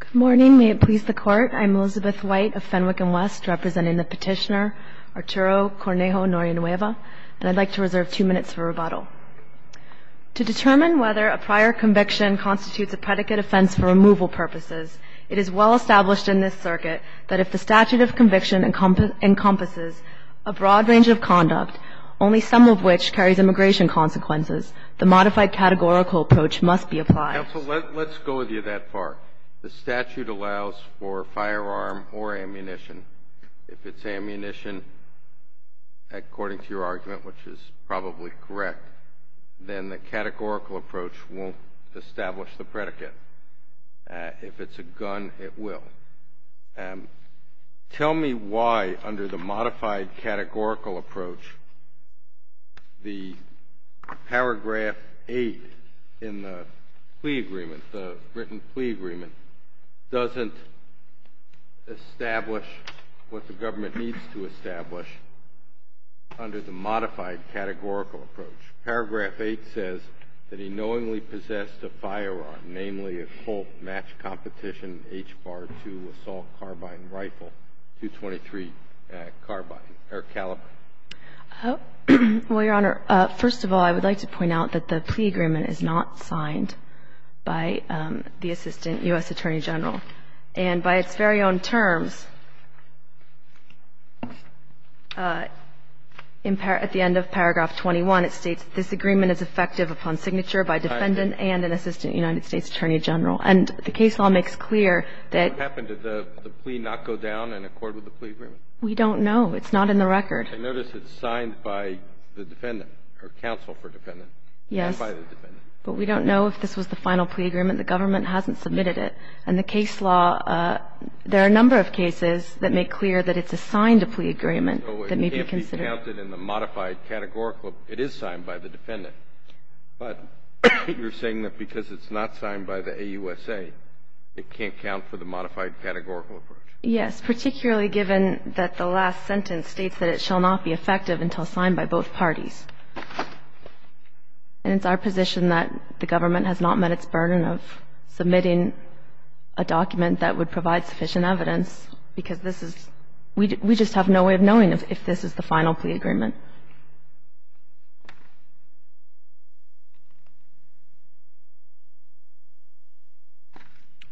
Good morning. May it please the Court, I'm Elizabeth White of Fenwick & West, representing the petitioner Arturo Cornejo Norianueva, and I'd like to reserve two minutes for rebuttal. To determine whether a prior conviction constitutes a predicate offense for removal purposes, it is well established in this circuit that if the statute of conviction encompasses a broad range of conduct, only some of which carries immigration consequences, the modified categorical approach must be applied. Counsel, let's go with you that far. The statute allows for firearm or ammunition. If it's ammunition, according to your argument, which is probably correct, then the categorical approach won't establish the predicate. If it's a gun, it will. Tell me why, under the modified categorical approach, the paragraph 8 in the plea agreement, the written plea agreement, doesn't establish what the government needs to establish under the modified categorical approach. Paragraph 8 says that he knowingly possessed a firearm, namely a Colt match competition H-Bar-2 assault carbine rifle, .223 carbine or caliber. Well, Your Honor, first of all, I would like to point out that the plea agreement is not signed by the Assistant U.S. Attorney General. And by its very own terms, at the end of paragraph 21, it states, this agreement is effective upon signature by defendant and an Assistant United States Attorney General. And the case law makes clear that the plea not go down in accord with the plea agreement. We don't know. It's not in the record. I notice it's signed by the defendant or counsel for defendant. Yes. But we don't know if this was the final plea agreement. The government hasn't submitted it. And the case law, there are a number of cases that make clear that it's a signed plea agreement that may be considered. So it can't be counted in the modified categorical. It is signed by the defendant. But you're saying that because it's not signed by the AUSA, it can't count for the modified categorical approach. Yes, particularly given that the last sentence states that it shall not be effective until signed by both parties. And it's our position that the government has not met its burden of submitting a document that would provide sufficient evidence, because this is we just have no way of knowing if this is the final plea agreement.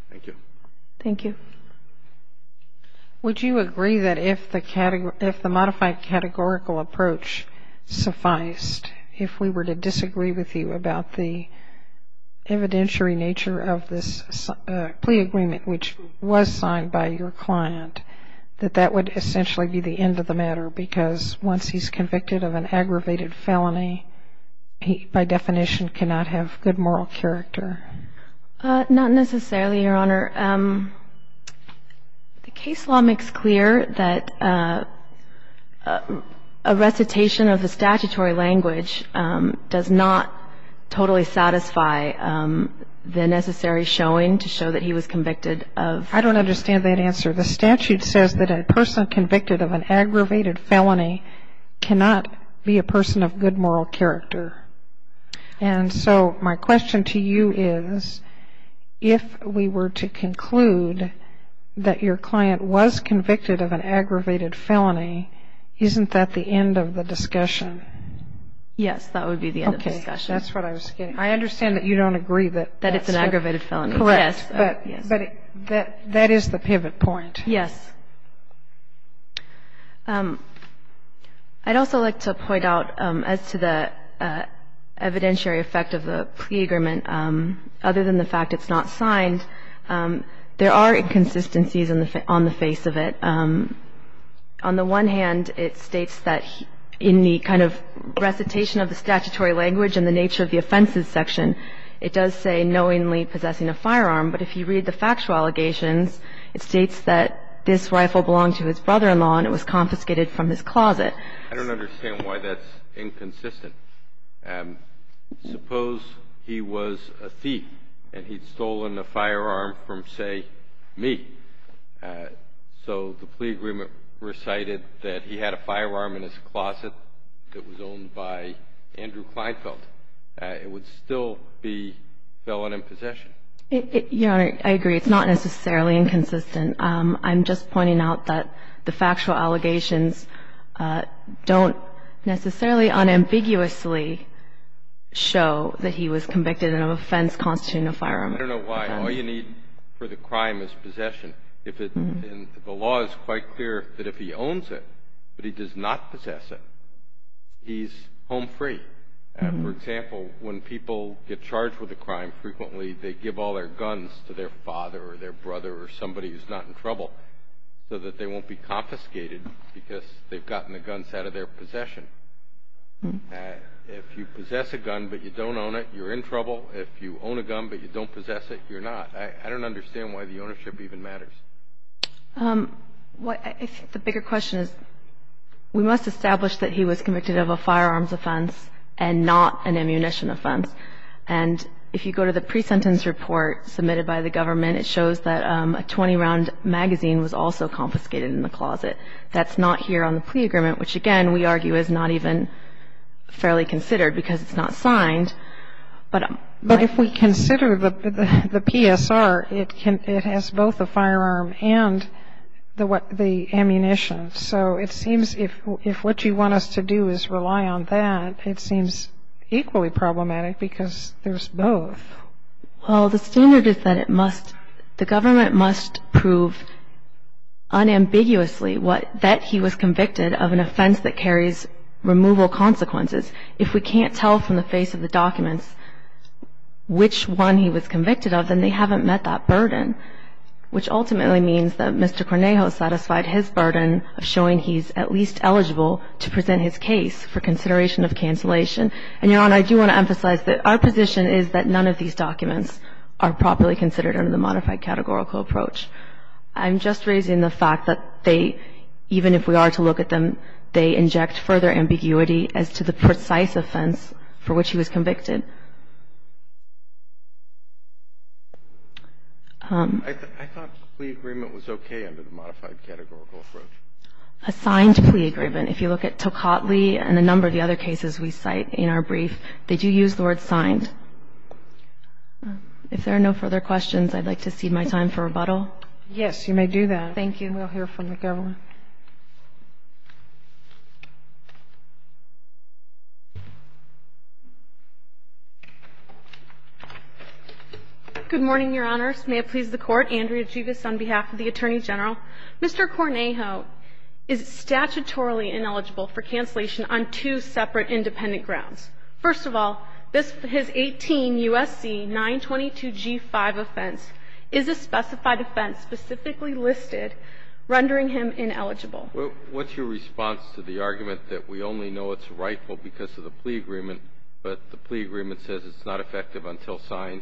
Thank you. Thank you. Would you agree that if the modified categorical approach sufficed, if we were to disagree with you about the evidentiary nature of this plea agreement, which was signed by your client, that that would essentially be the end of the matter? Because once he's convicted of an aggravated felony, he, by definition, cannot have good moral character. Not necessarily, Your Honor. The case law makes clear that a recitation of the statutory language does not totally satisfy the necessary showing to show that he was convicted of. I don't understand that answer. The statute says that a person convicted of an aggravated felony cannot be a person of good moral character. And so my question to you is, if we were to conclude that your client was convicted of an aggravated felony, isn't that the end of the discussion? Yes, that would be the end of the discussion. Okay. That's what I was getting. I understand that you don't agree that it's an aggravated felony. Correct. Yes. But that is the pivot point. Yes. I'd also like to point out, as to the evidentiary effect of the plea agreement, other than the fact it's not signed, there are inconsistencies on the face of it. On the one hand, it states that in the kind of recitation of the statutory language and the nature of the offenses section, it does say knowingly possessing a firearm. But if you read the factual allegations, it states that this rifle belonged to his brother-in-law and it was confiscated from his closet. I don't understand why that's inconsistent. Suppose he was a thief and he'd stolen a firearm from, say, me. So the plea agreement recited that he had a firearm in his closet that was owned by Andrew Kleinfeld. It would still be felony possession. Your Honor, I agree. It's not necessarily inconsistent. I'm just pointing out that the factual allegations don't necessarily unambiguously show that he was convicted of an offense constituting a firearm. I don't know why. All you need for the crime is possession. The law is quite clear that if he owns it but he does not possess it, he's home free. For example, when people get charged with a crime frequently, they give all their guns to their father or their brother or somebody who's not in trouble so that they won't be confiscated because they've gotten the guns out of their possession. If you possess a gun but you don't own it, you're in trouble. If you own a gun but you don't possess it, you're not. I don't understand why the ownership even matters. I think the bigger question is we must establish that he was convicted of a firearms offense and not an ammunition offense. And if you go to the pre-sentence report submitted by the government, it shows that a 20-round magazine was also confiscated in the closet. That's not here on the plea agreement, which, again, we argue is not even fairly considered because it's not signed. But if we consider the PSR, it has both the firearm and the ammunition. So it seems if what you want us to do is rely on that, it seems equally problematic because there's both. Well, the standard is that the government must prove unambiguously that he was convicted of an offense that carries removal consequences. If we can't tell from the face of the documents which one he was convicted of, then they haven't met that burden, which ultimately means that Mr. Cornejo satisfied his burden of showing he's at least eligible to present his case for consideration of cancellation. And, Your Honor, I do want to emphasize that our position is that none of these documents are properly considered under the modified categorical approach. I'm just raising the fact that they, even if we are to look at them, they inject further ambiguity as to the precise offense for which he was convicted. I thought plea agreement was okay under the modified categorical approach. A signed plea agreement. If you look at Tocatli and a number of the other cases we cite in our brief, they do use the word signed. If there are no further questions, I'd like to cede my time for rebuttal. Yes, you may do that. Thank you. We'll hear from the government. Thank you. Good morning, Your Honors. May it please the Court. Andrea Juvis on behalf of the Attorney General. Mr. Cornejo is statutorily ineligible for cancellation on two separate independent grounds. First of all, his 18 U.S.C. 922g5 offense is a specified offense specifically listed, rendering him ineligible. What's your response to the argument that we only know it's rightful because of the plea agreement, but the plea agreement says it's not effective until signed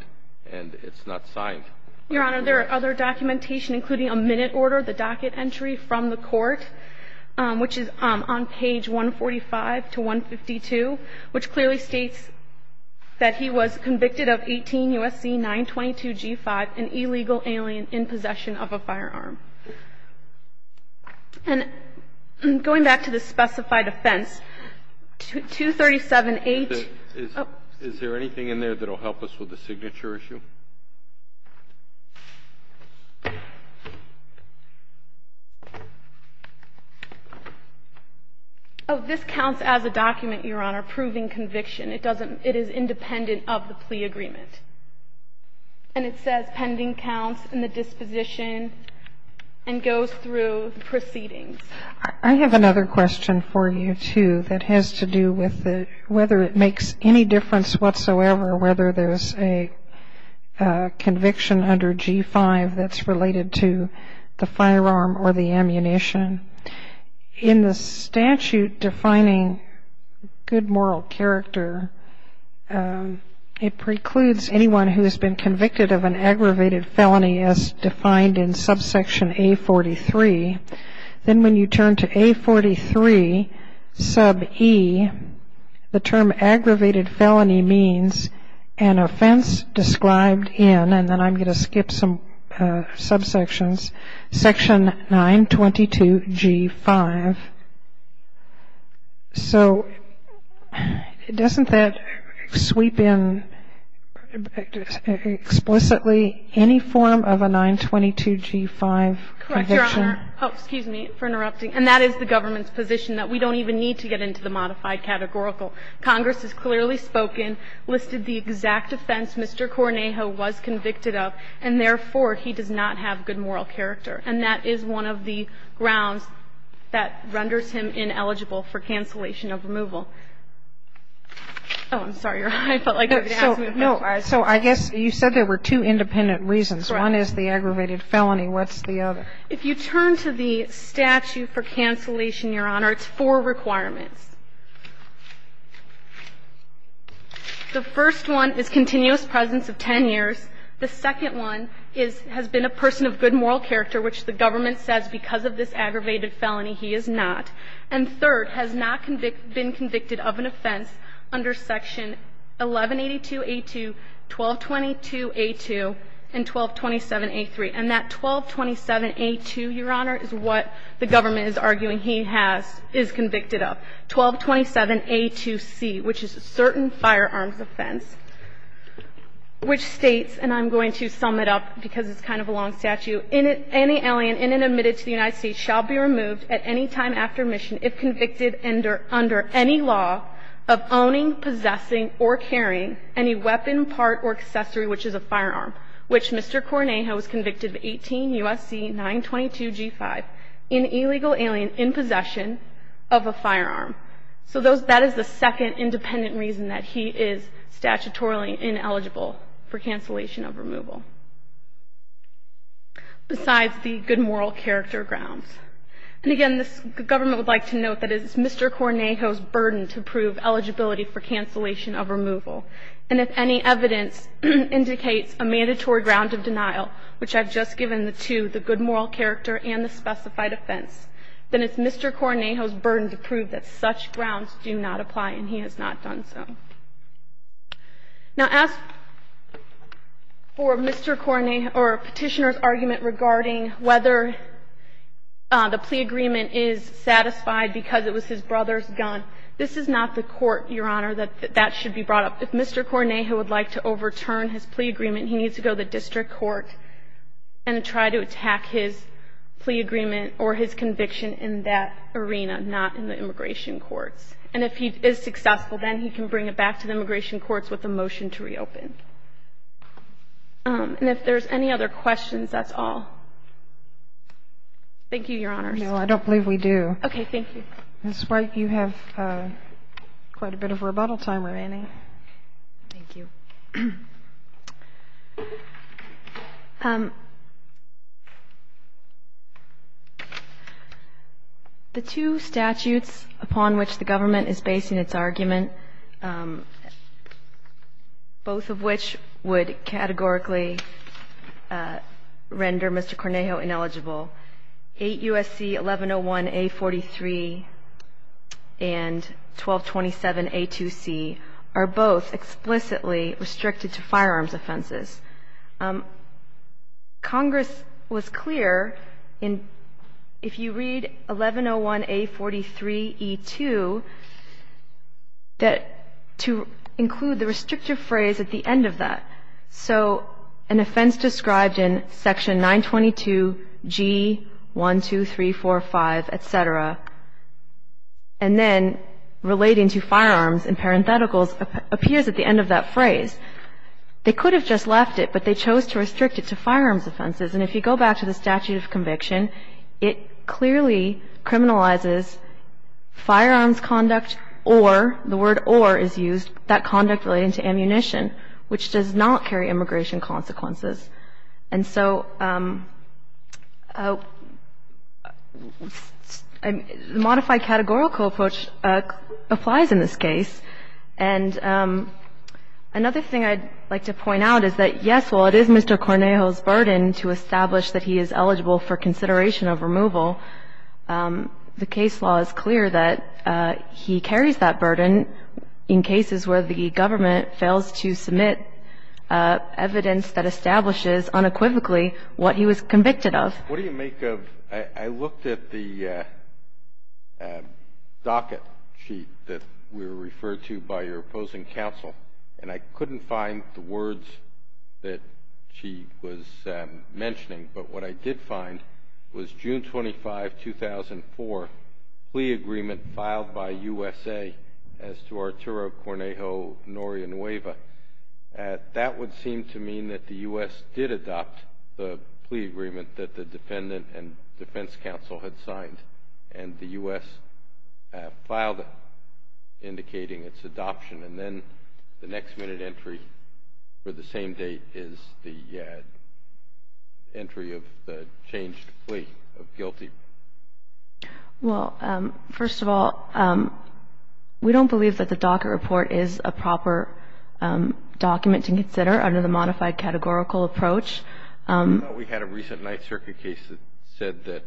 and it's not signed? Your Honor, there are other documentation, including a minute order, the docket entry from the Court, which is on page 145 to 152, which clearly states that he was And going back to the specified offense, 237-H. Is there anything in there that will help us with the signature issue? Oh, this counts as a document, Your Honor, proving conviction. It doesn't – it is independent of the plea agreement. And it says pending counts and the disposition and goes through proceedings. I have another question for you, too, that has to do with whether it makes any difference whatsoever whether there's a conviction under G-5 that's related to the firearm or the ammunition. In the statute defining good moral character, it precludes anyone who has been convicted of an aggravated felony as defined in subsection A-43. Then when you turn to A-43 sub-E, the term aggravated felony means an offense described in – and then I'm going to skip some subsections – section 922-G-5. So doesn't that sweep in explicitly any form of a 922-G-5 conviction? Correct, Your Honor. Oh, excuse me for interrupting. And that is the government's position, that we don't even need to get into the modified categorical. Congress has clearly spoken, listed the exact offense Mr. Cornejo was convicted of, and therefore, he does not have good moral character. And that is one of the grounds that renders him ineligible for cancellation of removal. Oh, I'm sorry, Your Honor. I felt like you were going to ask me a question. No. So I guess you said there were two independent reasons. Right. One is the aggravated felony. What's the other? If you turn to the statute for cancellation, Your Honor, it's four requirements. The first one is continuous presence of 10 years. The second one is – has been a person of good moral character, which the government says because of this aggravated felony he is not. And third, has not been convicted of an offense under section 1182-A2, 1222-A2, and 1227-A3. And that 1227-A2, Your Honor, is what the government is arguing he has – is convicted 1227-A2c, which is a certain firearms offense, which states – and I'm going to sum it up because it's kind of a long statute. Any alien in and admitted to the United States shall be removed at any time after mission if convicted under any law of owning, possessing, or carrying any weapon, part, or accessory, which is a firearm, which Mr. Cornejo was convicted of 18 U.S.C. 922-G5 in illegal alien in possession of a firearm. So those – that is the second independent reason that he is statutorily ineligible for cancellation of removal. Besides the good moral character grounds. And again, this government would like to note that it is Mr. Cornejo's burden to prove eligibility for cancellation of removal. And if any evidence indicates a mandatory ground of denial, which I've just given the two, specified offense, then it's Mr. Cornejo's burden to prove that such grounds do not apply and he has not done so. Now, as for Mr. Cornejo – or Petitioner's argument regarding whether the plea agreement is satisfied because it was his brother's gun, this is not the court, Your Honor, that that should be brought up. If Mr. Cornejo would like to overturn his plea agreement, he needs to go to the district court and try to attack his plea agreement or his conviction in that arena, not in the immigration courts. And if he is successful, then he can bring it back to the immigration courts with a motion to reopen. And if there's any other questions, that's all. Thank you, Your Honors. No, I don't believe we do. Okay, thank you. Ms. White, you have quite a bit of rebuttal time remaining. Thank you. The two statutes upon which the government is basing its argument, both of which would categorically render Mr. Cornejo ineligible, 8 U.S.C. 1101A43 and 1227A2C, are both explicitly restricted to firearms offenses. Congress was clear in, if you read 1101A43E2, that to include the restrictive phrase at the end of that. So an offense described in Section 922G12345, et cetera, and then relating to firearms in parentheticals, appears at the end of that phrase. They could have just left it, but they chose to restrict it to firearms offenses. And if you go back to the statute of conviction, it clearly criminalizes firearms conduct or, the word or is used, that conduct relating to ammunition, which does not carry immigration consequences. And so the modified categorical approach applies in this case. And another thing I'd like to point out is that, yes, while it is Mr. Cornejo's burden to establish that he is eligible for consideration of removal, the case law is clear that he carries that burden in cases where the government fails to submit evidence that establishes unequivocally what he was convicted of. What do you make of, I looked at the docket sheet that we were referred to by your opposing counsel, and I couldn't find the words that she was mentioning. But what I did find was June 25, 2004, plea agreement filed by USA as to Arturo That would seem to mean that the U.S. did adopt the plea agreement that the defendant and defense counsel had signed, and the U.S. filed it, indicating its adoption. And then the next minute entry for the same date is the entry of the changed plea of guilty. Well, first of all, we don't believe that the docket report is a proper document to consider under the modified categorical approach. We had a recent Ninth Circuit case that said that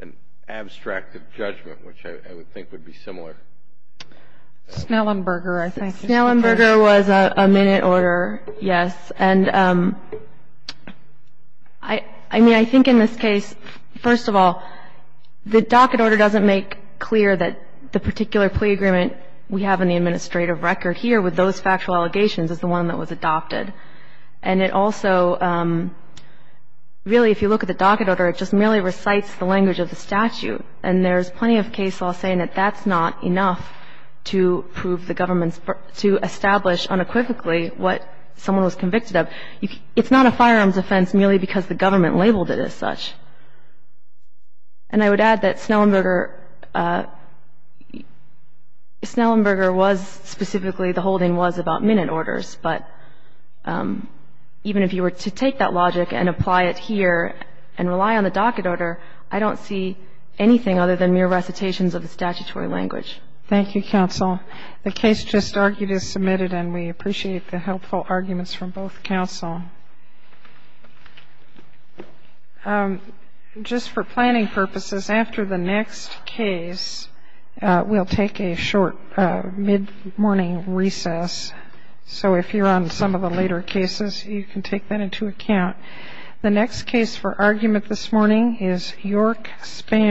an abstract of judgment, which I would think would be similar. Snellenberger, I think. Snellenberger was a minute order, yes. And I mean, I think in this case, first of all, the docket order doesn't make clear that the particular plea agreement we have in the administrative record here with those factual allegations is the one that was adopted. And it also really, if you look at the docket order, it just merely recites the language of the statute. And there's plenty of case law saying that that's not enough to prove the government's to establish unequivocally what someone was convicted of. It's not a firearms offense merely because the government labeled it as such. And I would add that Snellenberger was specifically, the holding was about minute orders. But even if you were to take that logic and apply it here and rely on the docket order, I don't see anything other than mere recitations of the statutory language. Thank you, counsel. The case just argued is submitted. And we appreciate the helpful arguments from both counsel. Just for planning purposes, after the next case, we'll take a short mid-morning recess. So if you're on some of the later cases, you can take that into account. The next case for argument this morning is York Spam.